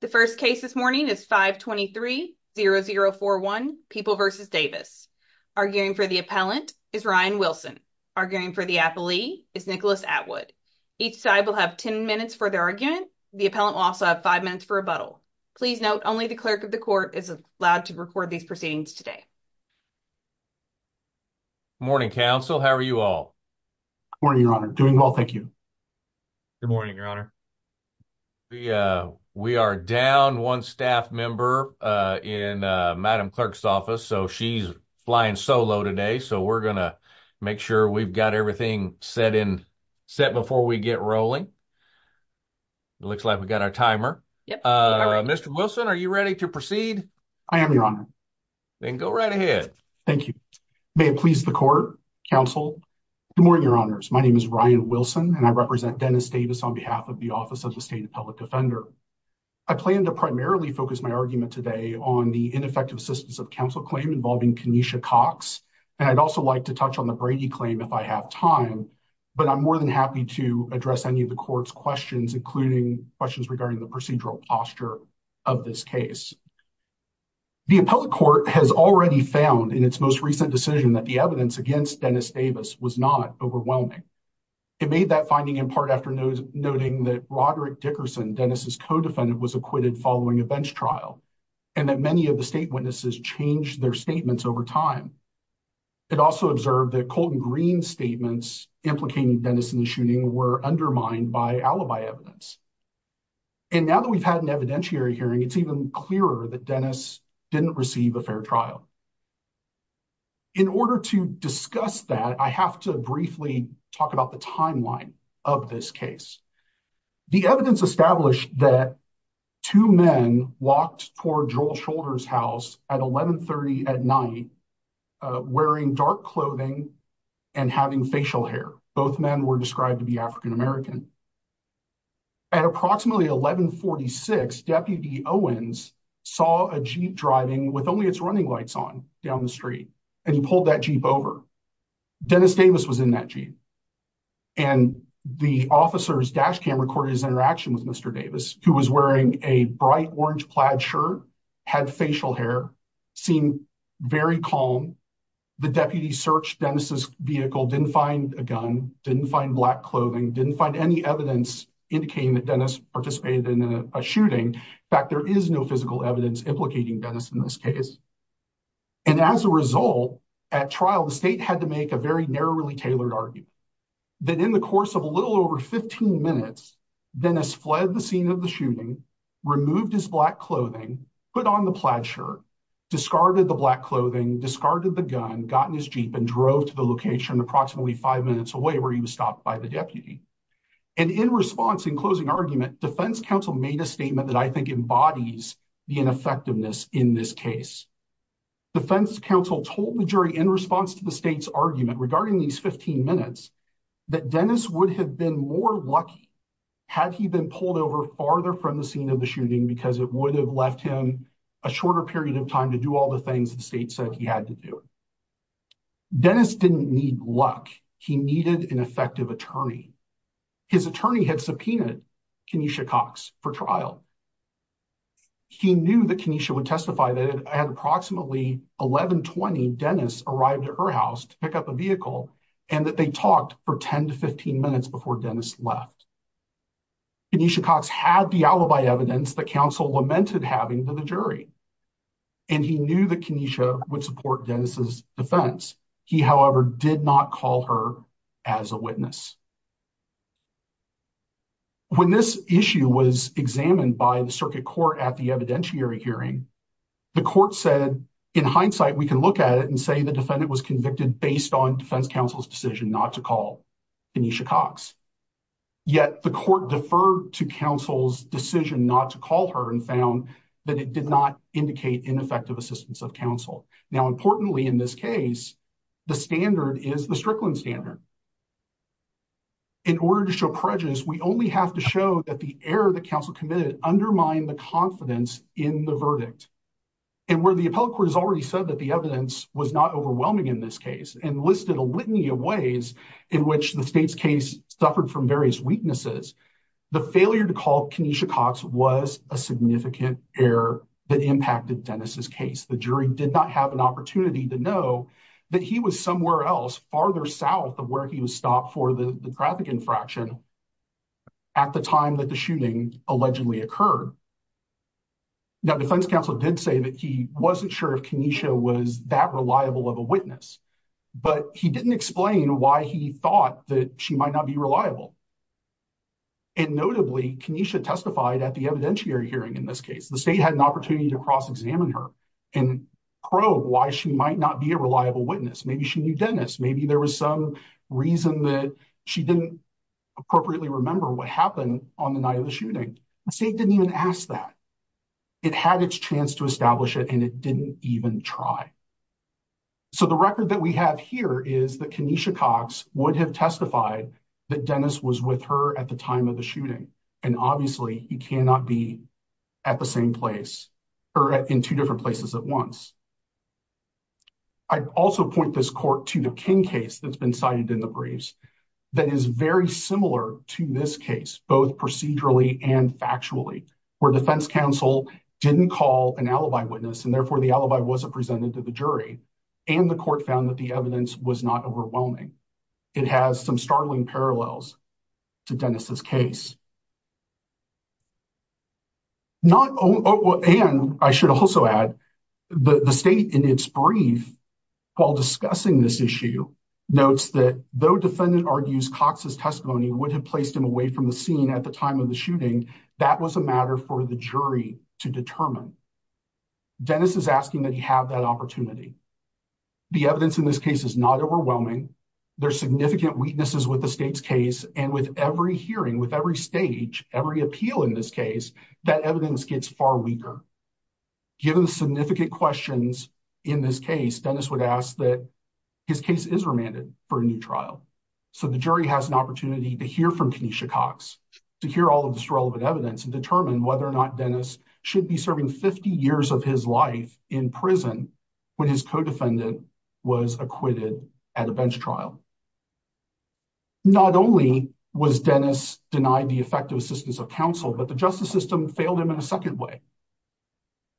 The first case this morning is 523-0041 People v. Davis. Arguing for the appellant is Ryan Wilson. Arguing for the appellee is Nicholas Atwood. Each side will have 10 minutes for their argument. The appellant will also have five minutes for rebuttal. Please note only the clerk of the court is allowed to record these proceedings today. Good morning, counsel. How are you all? Morning, your honor. Doing well, thank you. Good morning, your honor. We are down one staff member in Madam Clerk's office, so she's flying solo today. So we're going to make sure we've got everything set before we get rolling. It looks like we've got our timer. Mr. Wilson, are you ready to proceed? I am, your honor. Then go right ahead. Thank you. May it please the court, counsel. Good morning, your honors. My name is Ryan Wilson, and I represent Dennis Davis on behalf of the Office of the State Appellate Defender. I plan to primarily focus my argument today on the ineffective assistance of counsel claim involving Kenesha Cox, and I'd also like to touch on the Brady claim if I have time, but I'm more than happy to address any of the court's questions, including questions regarding the procedural posture of this case. The appellate court has already found in its most recent decision that the evidence against Dennis Davis was not overwhelming. It made that finding in part after noting that Roderick Dickerson, Dennis's co-defendant, was acquitted following a bench trial, and that many of the state witnesses changed their statements over time. It also observed that Colton Green's statements implicating Dennis in the shooting were undermined by alibi evidence. And now that we've had an evidentiary hearing, it's even clearer that Dennis didn't receive a fair trial. In order to discuss that, I have to briefly talk about the timeline of this case. The evidence established that two men walked toward Joel Shoulder's house at 1130 at night wearing dark clothing and having facial hair. Both men were described to be African American. At approximately 1146, Deputy Owens saw a Jeep driving with only its running lights on down the street, and he pulled that Jeep over. Dennis Davis was in that Jeep, and the officer's dash cam recorded his interaction with Mr. Davis, who was wearing a bright orange plaid shirt, had facial hair, seemed very calm. The deputy searched Dennis's vehicle, didn't find a gun, didn't find black clothing, didn't find any evidence indicating that Dennis participated in a shooting. In fact, there is no physical evidence implicating Dennis in this case. And as a result, at trial, the state had to make a very narrowly tailored argument that in the course of a little over 15 minutes, Dennis fled the scene of the shooting, removed his black clothing, put on the plaid shirt, discarded the black clothing, discarded the gun, got in his Jeep, and drove to the location approximately five minutes away where he was stopped by the deputy. And in response, in closing argument, defense counsel made a statement that I think embodies the ineffectiveness in this case. Defense counsel told the jury in response to the state's argument regarding these 15 minutes that Dennis would have been more lucky had he been pulled over farther from the scene of the shooting because it would have left him a shorter period of time to do all the things the state said he had to do. Dennis didn't need luck. He needed an effective attorney. His attorney had subpoenaed Kenesha Cox for trial. He knew that Kenesha would testify that at approximately 1120, Dennis arrived at her house to pick up a vehicle and that they talked for 10 to 15 minutes before Dennis left. Kenesha Cox had the alibi evidence that counsel lamented having to the jury. And he knew that Kenesha would support Dennis's defense. He, however, did not call her as a witness. When this issue was examined by the circuit court at the evidentiary hearing, the court said, in hindsight, we can look at it and say the defendant was convicted based on defense counsel's decision not to call Kenesha Cox. Yet the court deferred to counsel's decision not to call her and found that it did not indicate ineffective assistance of counsel. Now, importantly, in this case, the standard is the Strickland standard. In order to show prejudice, we only have to show that the error that counsel committed undermined the confidence in the verdict. And where the appellate court has already said that the evidence was not overwhelming in this case and listed a litany of ways in which the state's case suffered from various weaknesses, the failure to call Kenesha Cox was a significant error that impacted Dennis's case. The jury did not have an opportunity to know that he was somewhere else farther south of where he was stopped for the traffic infraction at the time that the shooting allegedly occurred. Now, defense counsel did say that he wasn't sure if Kenesha was that reliable of a witness, but he didn't explain why he thought that she might not be reliable. And notably, Kenesha testified at the evidentiary hearing in this case. The state had an opportunity to cross-examine her and probe why she might not be a reliable witness. Maybe she knew Dennis. Maybe there was some reason that she didn't appropriately remember what happened on the night of the shooting. The state didn't even ask that. It had its chance to establish it, and it didn't even try. So the record that we have here is that Kenesha Cox would have testified that Dennis was with her at the time of the shooting, and obviously he cannot be at the same place or in two different places at once. I also point this court to the King case that's been cited in the briefs that is very similar to this case, both procedurally and factually, where defense counsel didn't call an alibi witness, and therefore the alibi wasn't presented to the jury, and the court found that the evidence was not overwhelming. It has some startling parallels to Dennis's case. Not only, and I should also add, the state in its brief while discussing this issue notes that though defendant argues Cox's testimony would have placed him away from the scene at the time of the shooting, that was a matter for the jury to determine. Dennis is asking that he have that opportunity. The evidence in this case is not overwhelming. There's significant weaknesses with the state's case, and with every hearing, with every stage, every appeal in this case, that evidence gets far weaker. Given the significant questions in this case, Dennis would ask that his case is remanded for a new trial. So the jury has an opportunity to hear from Kenesha Cox, to hear all of this relevant evidence, and determine whether or not Dennis should be serving 50 years of his life in prison when his co-defendant was acquitted at a bench trial. Not only was Dennis denied the effective assistance of counsel, but the justice system failed him in a second way.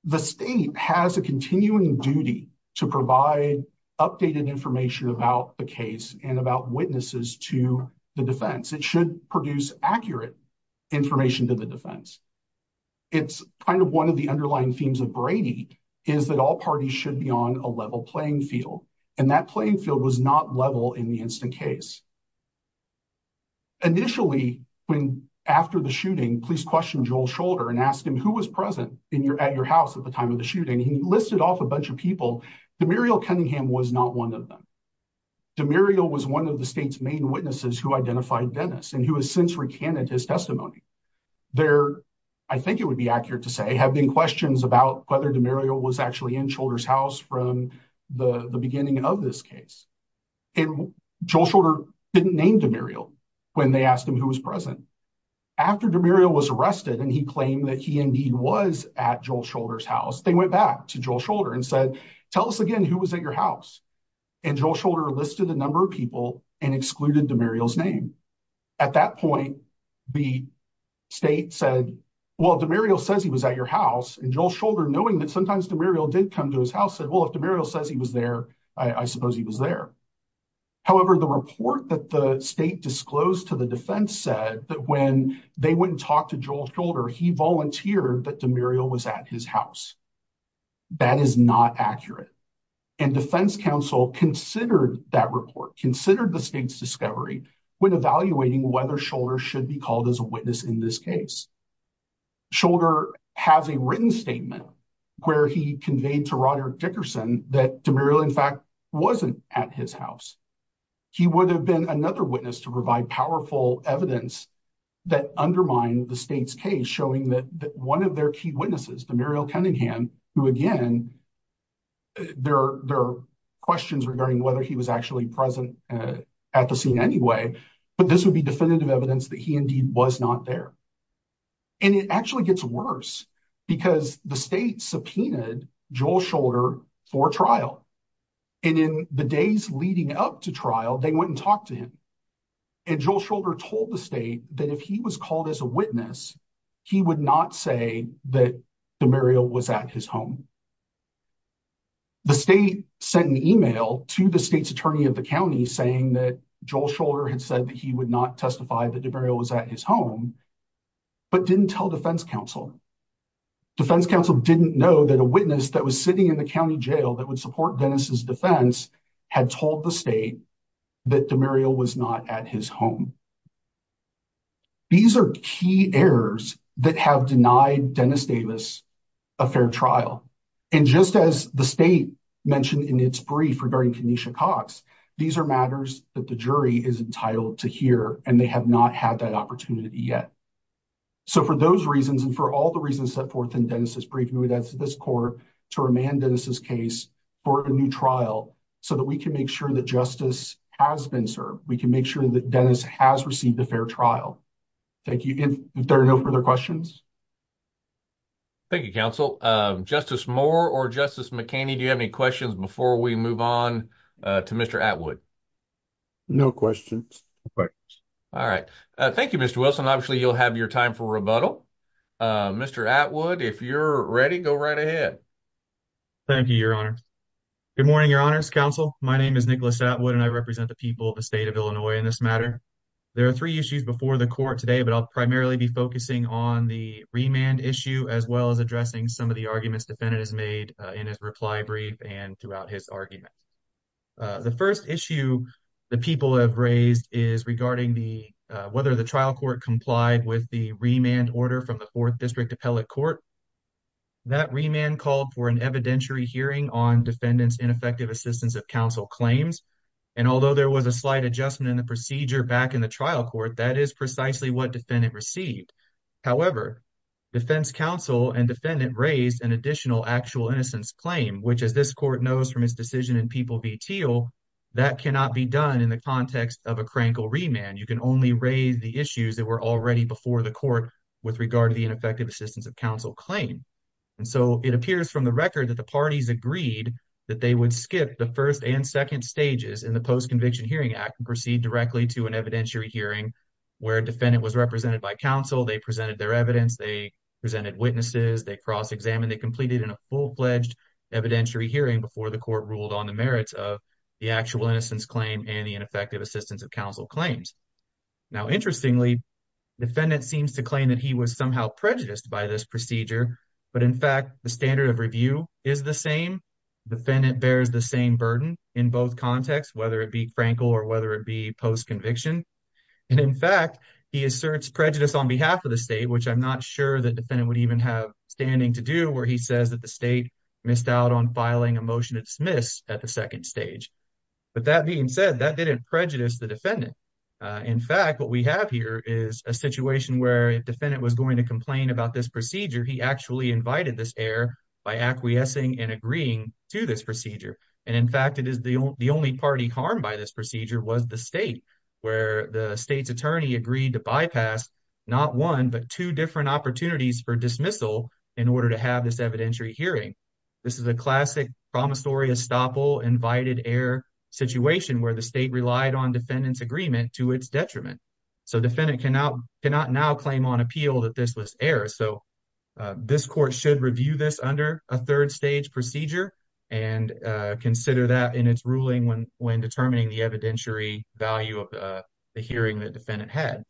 The state has a continuing duty to provide updated information about the case and about witnesses to the defense. It should produce accurate information to the kind of one of the underlying themes of Brady, is that all parties should be on a level playing field. And that playing field was not level in the instant case. Initially, when after the shooting, police questioned Joel Scholder and asked him who was present in your at your house at the time of the shooting. He listed off a bunch of people. Demuriel Cunningham was not one of them. Demuriel was one of the state's main witnesses who identified Dennis and who has since recanted his testimony. There, I think it would be accurate to say, have been questions about whether Demuriel was actually in Scholder's house from the beginning of this case. And Joel Scholder didn't name Demuriel when they asked him who was present. After Demuriel was arrested and he claimed that he indeed was at Joel Scholder's house, they went back to Joel Scholder and said, tell us again who was at your house. And Joel Scholder listed a number of people and excluded Demuriel's name. At that point, the state said, well, Demuriel says he was at your house. And Joel Scholder, knowing that sometimes Demuriel did come to his house, said, well, if Demuriel says he was there, I suppose he was there. However, the report that the state disclosed to the defense said that when they wouldn't talk to Joel Scholder, he volunteered that Demuriel was at his house. That is not accurate. And defense counsel considered that report, considered the state's discovery when evaluating whether Scholder should be called as a witness in this case. Scholder has a written statement where he conveyed to Roderick Dickerson that Demuriel, in fact, wasn't at his house. He would have been another witness to provide powerful evidence that undermined the state's case, showing that one of their key witnesses, Demuriel Cunningham, who again, there are questions regarding whether he was actually present at the scene anyway, but this would be definitive evidence that he indeed was not there. And it actually gets worse because the state subpoenaed Joel Scholder for trial. And in the days leading up to trial, they wouldn't talk to him. And Joel Scholder told the state that if was called as a witness, he would not say that Demuriel was at his home. The state sent an email to the state's attorney of the county saying that Joel Scholder had said that he would not testify that Demuriel was at his home, but didn't tell defense counsel. Defense counsel didn't know that a witness that was sitting in the county jail that would support Dennis's defense had told the state that Demuriel was not at his home. These are key errors that have denied Dennis Davis a fair trial. And just as the state mentioned in its brief regarding Kenesha Cox, these are matters that the jury is entitled to hear, and they have not had that opportunity yet. So for those reasons, and for all the reasons set in Dennis's brief, we would ask this court to remand Dennis's case for a new trial, so that we can make sure that justice has been served. We can make sure that Dennis has received a fair trial. Thank you. If there are no further questions. Thank you, counsel. Justice Moore or Justice McKinney, do you have any questions before we move on to Mr. Atwood? No questions. All right. Thank you, Mr. Wilson. Obviously, you'll have your time for rebuttal. Mr. Atwood, if you're ready, go right ahead. Thank you, Your Honor. Good morning, Your Honor's counsel. My name is Nicholas Atwood, and I represent the people of the state of Illinois in this matter. There are three issues before the court today, but I'll primarily be focusing on the remand issue as well as addressing some of the arguments defendant has made in his reply brief and throughout his argument. The first issue the people have raised is regarding whether the trial order from the 4th District Appellate Court that remand called for an evidentiary hearing on defendant's ineffective assistance of counsel claims. And although there was a slight adjustment in the procedure back in the trial court, that is precisely what defendant received. However, defense counsel and defendant raised an additional actual innocence claim, which, as this court knows from his decision in People v. Teal, that cannot be done in the context of crankle remand. You can only raise the issues that were already before the court with regard to the ineffective assistance of counsel claim. And so it appears from the record that the parties agreed that they would skip the first and second stages in the Post-Conviction Hearing Act and proceed directly to an evidentiary hearing where defendant was represented by counsel. They presented their evidence. They presented witnesses. They cross-examined. They completed in a full-fledged evidentiary hearing before the court ruled on the merits of the actual claim and the ineffective assistance of counsel claims. Now, interestingly, defendant seems to claim that he was somehow prejudiced by this procedure. But in fact, the standard of review is the same. Defendant bears the same burden in both contexts, whether it be crankle or whether it be post-conviction. And in fact, he asserts prejudice on behalf of the state, which I'm not sure that defendant would even have standing to do where he says that the state missed out on filing a motion to dismiss at the second stage. But that being said, that didn't prejudice the defendant. In fact, what we have here is a situation where if defendant was going to complain about this procedure, he actually invited this error by acquiescing and agreeing to this procedure. And in fact, it is the only party harmed by this procedure was the state, where the state's attorney agreed to bypass not one but two different opportunities for dismissal in order to have this evidentiary hearing. This is a classic promissory estoppel invited error situation where the state relied on defendant's agreement to its detriment. So defendant cannot now claim on appeal that this was error. So this court should review this under a third stage procedure and consider that in its ruling when determining the evidentiary value of the hearing that defendant had.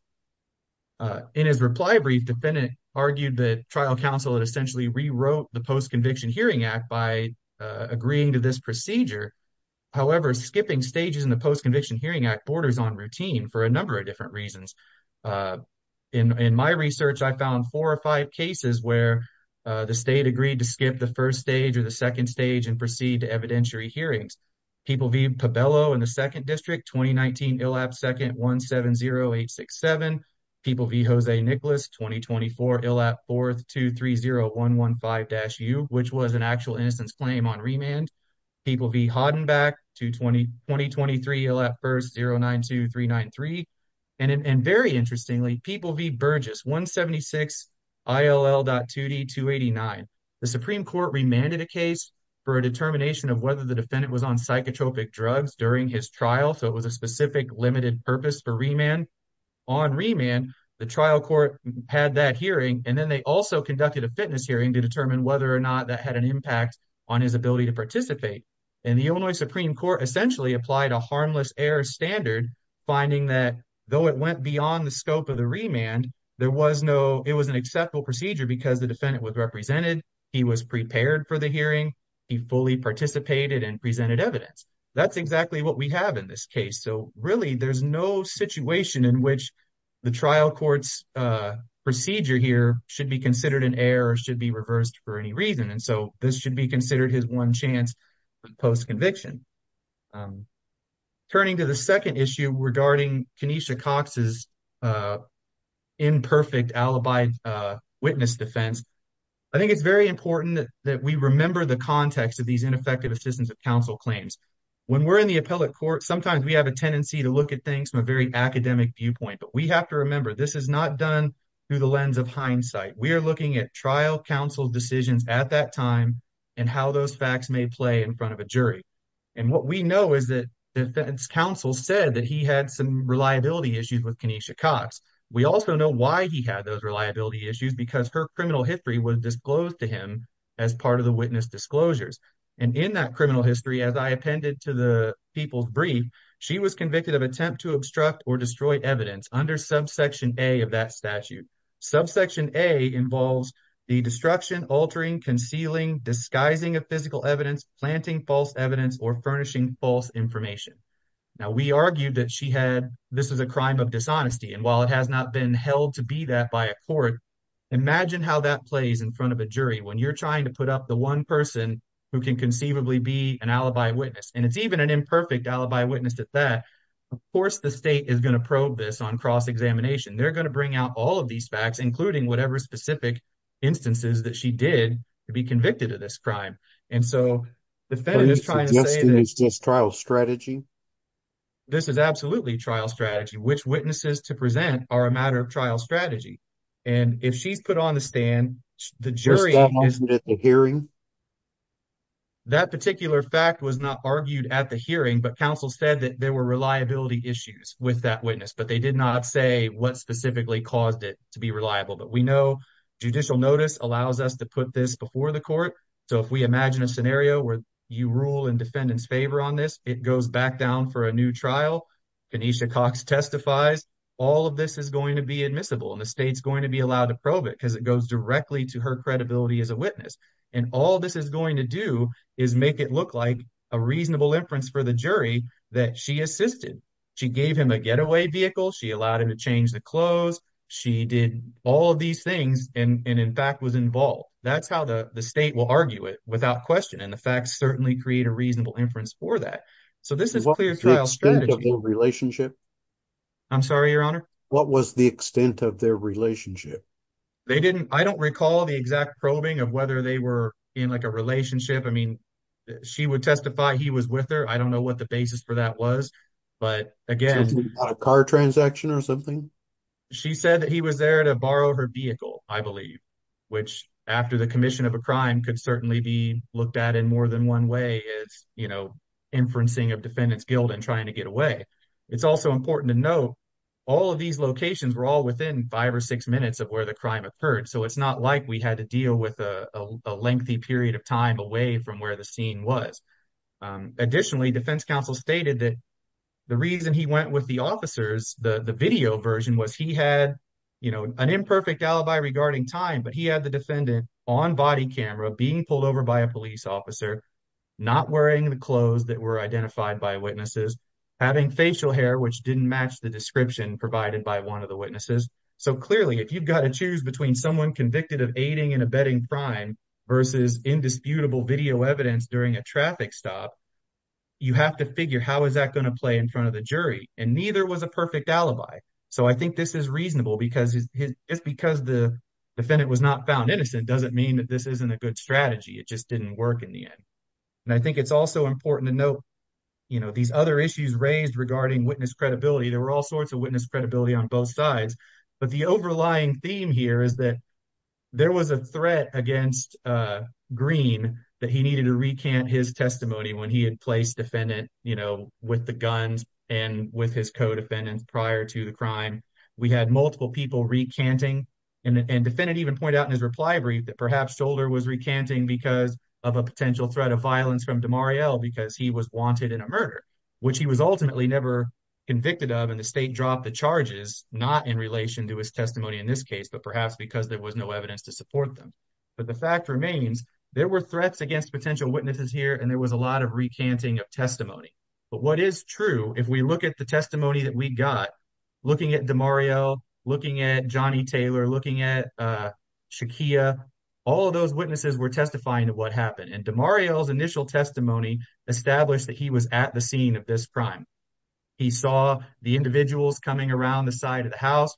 In his reply brief, defendant argued that trial counsel essentially rewrote the Post-Conviction Hearing Act by agreeing to this procedure. However, skipping stages in the Post-Conviction Hearing Act borders on routine for a number of different reasons. In my research, I found four or five cases where the state agreed to skip the first stage or the second stage and proceed to evidentiary hearings. People v. Pabello in the dash u, which was an actual innocence claim on remand. People v. Hodden back to twenty twenty twenty three at first zero nine two three nine three. And very interestingly, people v. Burgess one seventy six ILL dot 2D 289. The Supreme Court remanded a case for a determination of whether the defendant was on psychotropic drugs during his trial. So it was a specific limited purpose for remand on remand. The trial court had that hearing and then they also conducted a fitness hearing to determine whether or not that had an impact on his ability to participate. And the Illinois Supreme Court essentially applied a harmless air standard, finding that though it went beyond the scope of the remand, there was no it was an acceptable procedure because the defendant was represented. He was prepared for the hearing. He fully participated and presented evidence. That's exactly what we have in this case. So really, there's no situation in which the trial court's procedure here should be considered an error, should be reversed for any reason. And so this should be considered his one chance post conviction. Turning to the second issue regarding Kenesha Cox's imperfect alibi witness defense. I think it's very important that we remember the context of these ineffective assistance of counsel claims when we're in the appellate court. Sometimes we have a tendency to look at things from a very academic viewpoint, but we have to remember this is not done through the lens of hindsight. We are looking at trial counsel decisions at that time and how those facts may play in front of a jury. And what we know is that defense counsel said that he had some reliability issues with Kenesha Cox. We also know why he had those reliability issues because her criminal history was disclosed to him as part of the witness disclosures. And in that criminal history, as I appended to the people's brief, she was convicted of attempt to obstruct or destroy evidence under subsection A of that statute. Subsection A involves the destruction, altering, concealing, disguising of physical evidence, planting false evidence, or furnishing false information. Now we argued that she had, this is a crime of dishonesty. And while it has not been held to be that by a court, imagine how that plays in front of a jury when you're trying to put up the one person who can conceivably be an alibi witness. And it's even an imperfect alibi witness at that. Of course, the state is going to probe this on cross-examination. They're going to bring out all of these facts, including whatever specific instances that she did to be convicted of this crime. And so the fed is trying to say this trial strategy. This is absolutely trial strategy, which witnesses to present are a matter of trial strategy. And if she's put on the stand, the jury hearing that particular fact was not argued at the hearing, but counsel said that there were reliability issues with that witness, but they did not say what specifically caused it to be reliable, but we know judicial notice allows us to put this before the court. So if we imagine a scenario where you rule in defendant's favor on this, it goes back down for a new trial. Canisha Cox testifies, all of this is going to be admissible and the state's going to be allowed to probe it because it goes directly to her credibility as a witness. And all this is going to do is make it look like a reasonable inference for the jury that she assisted. She gave him a getaway vehicle. She allowed him to change the clothes. She did all of these things and in fact was involved. That's how the state will argue it without question. And the facts certainly create a reasonable inference for that. So this is clear trial strategy. What was the extent of their relationship? They didn't, I don't recall the exact probing of whether they were in like a relationship. I mean, she would testify he was with her. I don't know what the basis for that was, but again, she said that he was there to borrow her vehicle, I believe, which after the commission of a crime could certainly be looked at in more than one way is, you know, inferencing of defendant's guilt and trying to get away. It's also important to note all of these locations were all within five or six minutes of where the crime occurred. So it's not like we had to deal with a lengthy period of time away from where the scene was. Additionally, defense counsel stated that the reason he went with the officers, the video version was he had, you know, an imperfect alibi regarding time, but he had the defendant on body camera being pulled over by a police officer, not wearing the clothes that were identified by witnesses, having facial hair, which didn't match the description provided by one of the witnesses. So clearly, if you've got to choose between someone convicted of aiding and abetting crime versus indisputable video evidence during a traffic stop, you have to figure how is that going to play in front of the jury, and neither was a perfect alibi. So I think this is reasonable because just because the defendant was not found innocent doesn't mean that this isn't a good strategy. It just didn't work in the end. And I think it's also important to note, you know, these other issues raised regarding witness credibility. There were all sorts of witness credibility on both sides, but the overlying theme here is that there was a threat against Greene that he needed to recant his testimony when he had placed defendant, you know, with the guns and with his co-defendants prior to the crime. We had multiple people recanting, and defendant even pointed out in his reply brief that perhaps Scholder was recanting because of a potential threat of violence from Demariel because he was in a murder, which he was ultimately never convicted of, and the state dropped the charges, not in relation to his testimony in this case, but perhaps because there was no evidence to support them. But the fact remains, there were threats against potential witnesses here, and there was a lot of recanting of testimony. But what is true, if we look at the testimony that we got, looking at Demariel, looking at Johnny Taylor, looking at Shakia, all of those witnesses were what happened. And Demariel's initial testimony established that he was at the scene of this crime. He saw the individuals coming around the side of the house.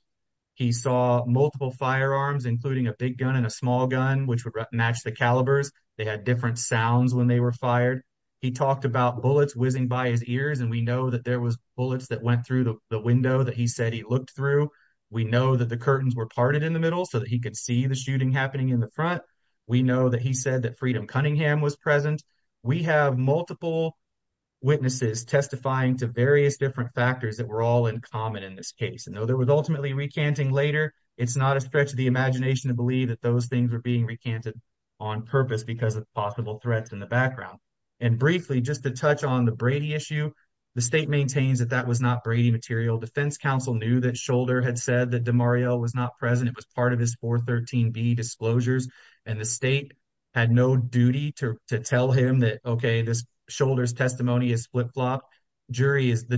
He saw multiple firearms, including a big gun and a small gun, which would match the calibers. They had different sounds when they were fired. He talked about bullets whizzing by his ears, and we know that there was bullets that went through the window that he said he looked through. We know that the curtains were parted in the middle so that he could see the shooting happening in the front. We know that he said that Freedom Cunningham was present. We have multiple witnesses testifying to various different factors that were all in common in this case. And though there was ultimately recanting later, it's not a stretch of the imagination to believe that those things were being recanted on purpose because of possible threats in the background. And briefly, just to touch on the Brady issue, the state maintains that that was not Brady material. Defense counsel knew that had said that Demariel was not present. It was part of his 413b disclosures, and the state had no duty to tell him that, okay, this shoulder's testimony is flip-flopped. The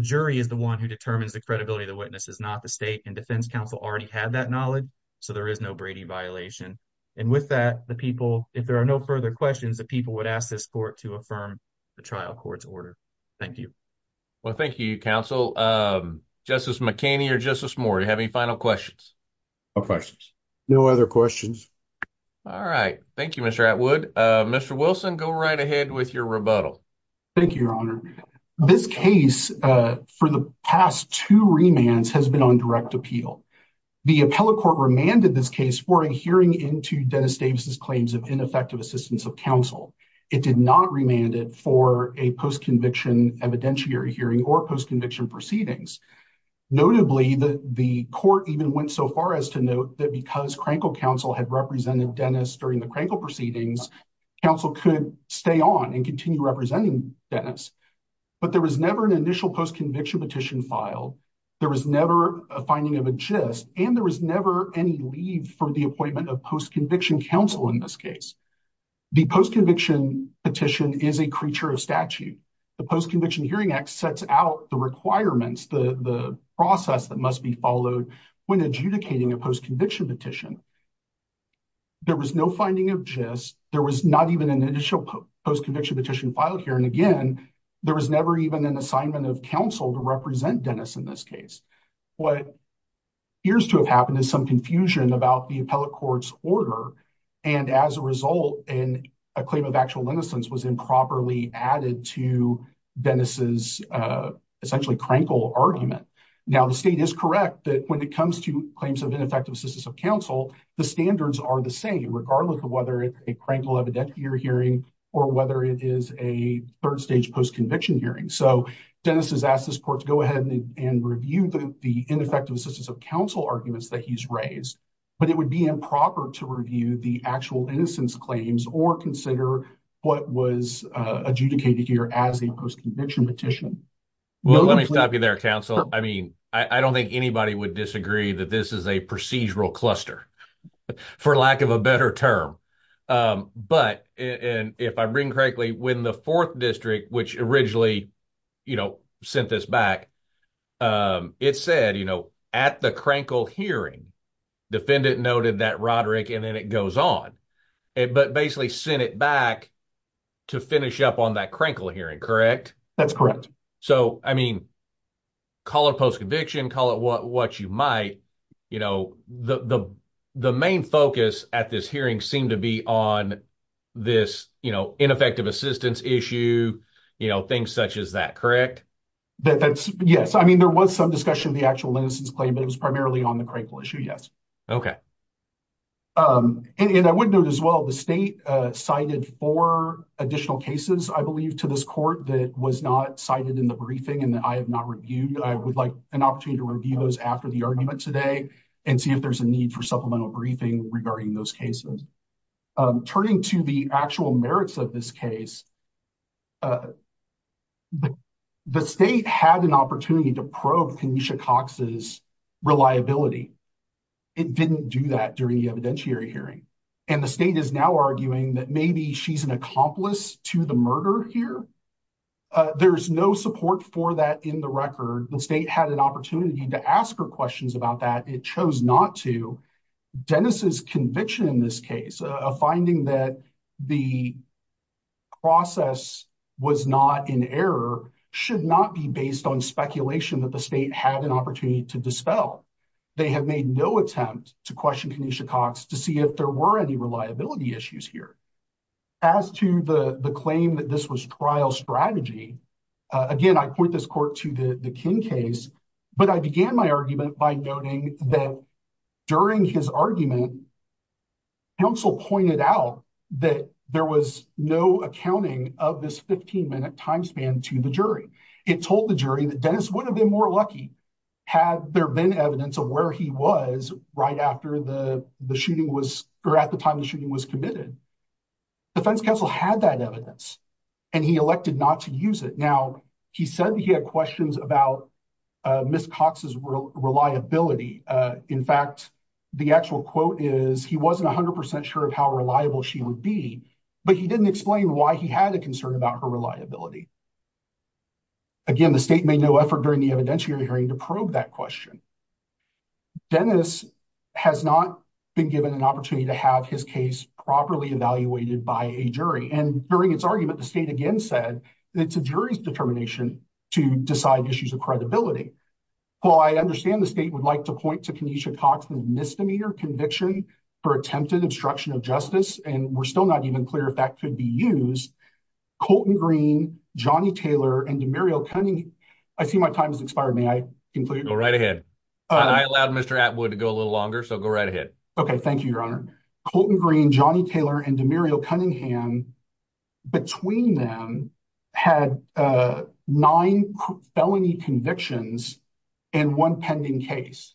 jury is the one who determines the credibility of the witnesses, not the state. And defense counsel already had that knowledge, so there is no Brady violation. And with that, if there are no further questions, the people would ask this court to affirm the trial court's order. Thank you. Well, thank you, counsel. Justice McHaney or Justice Moore, do you have any final questions? No questions. No other questions. All right. Thank you, Mr. Atwood. Mr. Wilson, go right ahead with your rebuttal. Thank you, Your Honor. This case, for the past two remands, has been on direct appeal. The appellate court remanded this case for adhering into Dennis Davis's claims of ineffective assistance of counsel. It did not remand it for a post-conviction evidentiary hearing or post-conviction proceedings. Notably, the court even went so far as to note that because Crankle counsel had represented Dennis during the Crankle proceedings, counsel could stay on and continue representing Dennis. But there was never an initial post-conviction petition filed. There was never a finding of a gist, and there was never any leave for the appointment of post-conviction counsel in this case. The post-conviction petition is a creature of statute. The Post-Conviction Hearing Act sets out the requirements, the process that must be followed when adjudicating a post-conviction petition. There was no finding of gist. There was not even an initial post-conviction petition filed here. And again, there was never even an assignment of counsel to represent Dennis in this case. What appears to have happened is some confusion about the appellate court's order, and as a result, a claim of actual innocence was improperly added to Dennis's essentially Crankle argument. Now, the state is correct that when it comes to claims of ineffective assistance of counsel, the standards are the same, regardless of whether it's a Crankle evidentiary hearing or whether it is a third-stage post-conviction hearing. So Dennis has asked this court to go and review the ineffective assistance of counsel arguments that he's raised, but it would be improper to review the actual innocence claims or consider what was adjudicated here as a post-conviction petition. Well, let me stop you there, counsel. I mean, I don't think anybody would disagree that this is a procedural cluster, for lack of a better term. But if I'm correctly, when the fourth district, which originally sent this back, it said at the Crankle hearing, defendant noted that Roderick, and then it goes on, but basically sent it back to finish up on that Crankle hearing, correct? That's correct. So, I mean, call it post-conviction, call it what you might. The main focus at this hearing seemed to be on this ineffective assistance issue, things such as that, correct? Yes. I mean, there was some discussion of the actual innocence claim, but it was primarily on the Crankle issue, yes. And I would note as well, the state cited four additional cases, I believe, to this court that was not cited in the briefing and that I have not reviewed. I would like an opportunity to review those after the argument today and see if there's a need for turning to the actual merits of this case. The state had an opportunity to probe Kenesha Cox's reliability. It didn't do that during the evidentiary hearing. And the state is now arguing that maybe she's an accomplice to the murder here. There's no support for that in the record. The state had an opportunity to ask her questions about that. It chose not to. Dennis's conviction in this case, a finding that the process was not in error, should not be based on speculation that the state had an opportunity to dispel. They have made no attempt to question Kenesha Cox to see if there were any reliability issues here. As to the claim that this was trial strategy, again, I point this court to the King case, but I began my argument by noting that during his argument, counsel pointed out that there was no accounting of this 15-minute time span to the jury. It told the jury that Dennis would have been more lucky had there been evidence of where he was right after the shooting was, or at the time the shooting was committed. Defense counsel had that evidence and he elected not to Now, he said he had questions about Ms. Cox's reliability. In fact, the actual quote is he wasn't 100% sure of how reliable she would be, but he didn't explain why he had a concern about her reliability. Again, the state made no effort during the evidentiary hearing to probe that question. Dennis has not been given an opportunity to have his case properly evaluated by a jury. During its argument, the state again said it's a jury's determination to decide issues of credibility. While I understand the state would like to point to Kenesha Cox's misdemeanor conviction for attempted obstruction of justice, and we're still not even clear if that could be used, Colton Green, Johnny Taylor, and Demario Cunningham, I see my time has expired. May I conclude? Go right ahead. I allowed Mr. Atwood to go a little longer, so go right ahead. Okay, Colton Green, Johnny Taylor, and Demario Cunningham, between them, had nine felony convictions and one pending case.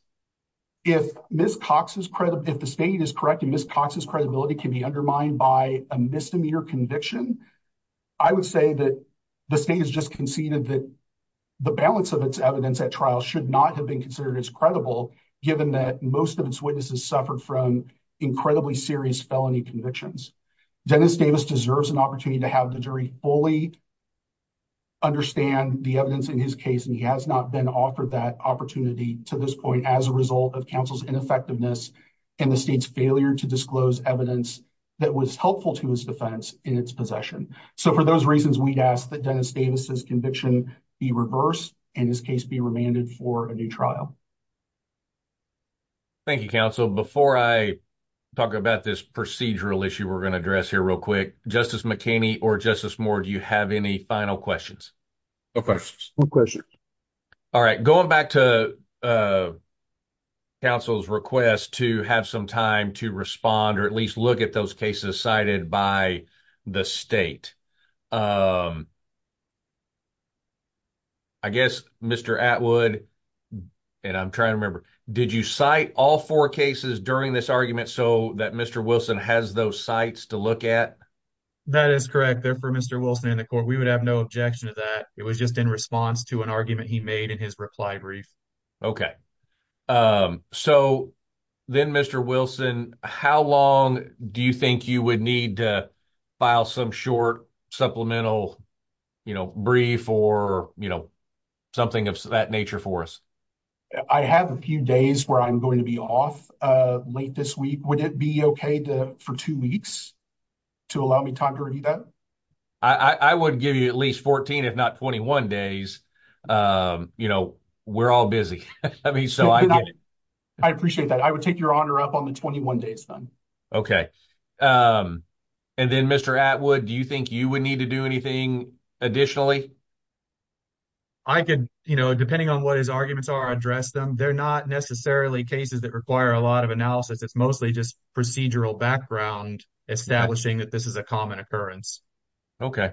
If Ms. Cox's credibility, if the state is correct and Ms. Cox's credibility can be undermined by a misdemeanor conviction, I would say that the state has just conceded that the balance of its evidence at trial should not have been considered as credible, given that most of its witnesses suffered from incredibly serious felony convictions. Dennis Davis deserves an opportunity to have the jury fully understand the evidence in his case, and he has not been offered that opportunity to this point as a result of counsel's ineffectiveness and the state's failure to disclose evidence that was helpful to his defense in its possession. So, for those reasons, we'd ask that Dennis Davis's conviction be reversed and his case be remanded for a new trial. Thank you, counsel. Before I talk about this procedural issue we're going to address here real quick, Justice McKinney or Justice Moore, do you have any final questions? No questions. All right, going back to counsel's request to have some time to respond or at least look at those cases cited by the state. I guess Mr. Atwood, and I'm trying to remember, did you cite all four cases during this argument so that Mr. Wilson has those sites to look at? That is correct. They're for Mr. Wilson and the court. We would have no objection to that. It was just in response to an argument he made in his reply brief. Okay. So, then, Mr. Wilson, how long do you think you would need to file some short supplemental brief or something of that nature for us? I have a few days where I'm going to be off late this week. Would it be okay for two weeks to allow me time to review that? I would give you at least 14 if not 21 days. You know, we're all busy. I mean, so I get it. I appreciate that. I would take your honor up on the 21 days then. Okay. And then, Mr. Atwood, do you think you would need to do anything additionally? I could, you know, depending on what his arguments are, address them. They're not necessarily cases that require a lot of analysis. It's mostly just procedural background establishing that is a common occurrence. Okay.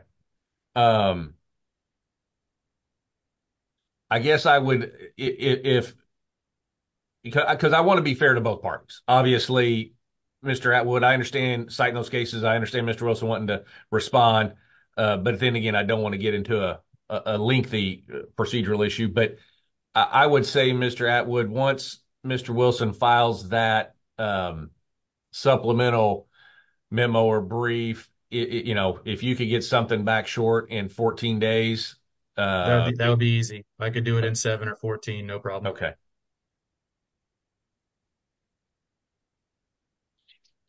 I guess I would, if, because I want to be fair to both parties. Obviously, Mr. Atwood, I understand, citing those cases, I understand Mr. Wilson wanting to respond. But then again, I don't want to get into a lengthy procedural issue. But I would say, Mr. Atwood, once Mr. Wilson files that supplemental memo or brief, you know, if you could get something back short in 14 days. That would be easy. I could do it in 7 or 14, no problem. Okay.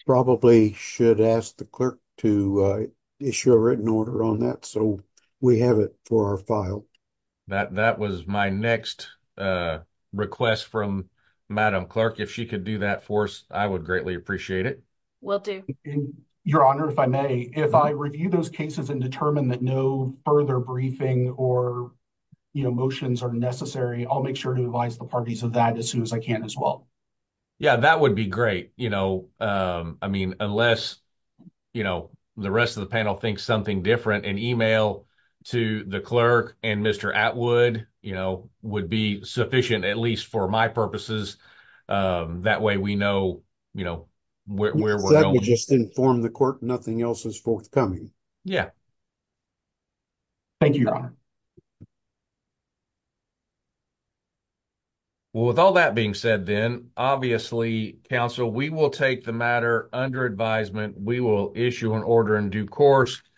Probably should ask the clerk to issue a written order on that so we have it for our file. That was my next request from Madam Clerk. If she could do that for us, I would greatly appreciate it. Will do. Your Honor, if I may, if I review those cases and determine that no further briefing or, you know, motions are necessary, I'll make sure to advise the parties of that as soon as I can as well. Yeah, that would be great. You know, I mean, unless, you know, the rest of the panel thinks something different, an email to the clerk and Mr. Atwood, you know, would be sufficient, at least for my purposes. That way we know, you know, where we're going. Let me just inform the court nothing else is forthcoming. Yeah. Thank you, Your Honor. Well, with all that being said then, obviously, counsel, we will take the matter under advisement. We will issue an order in due course.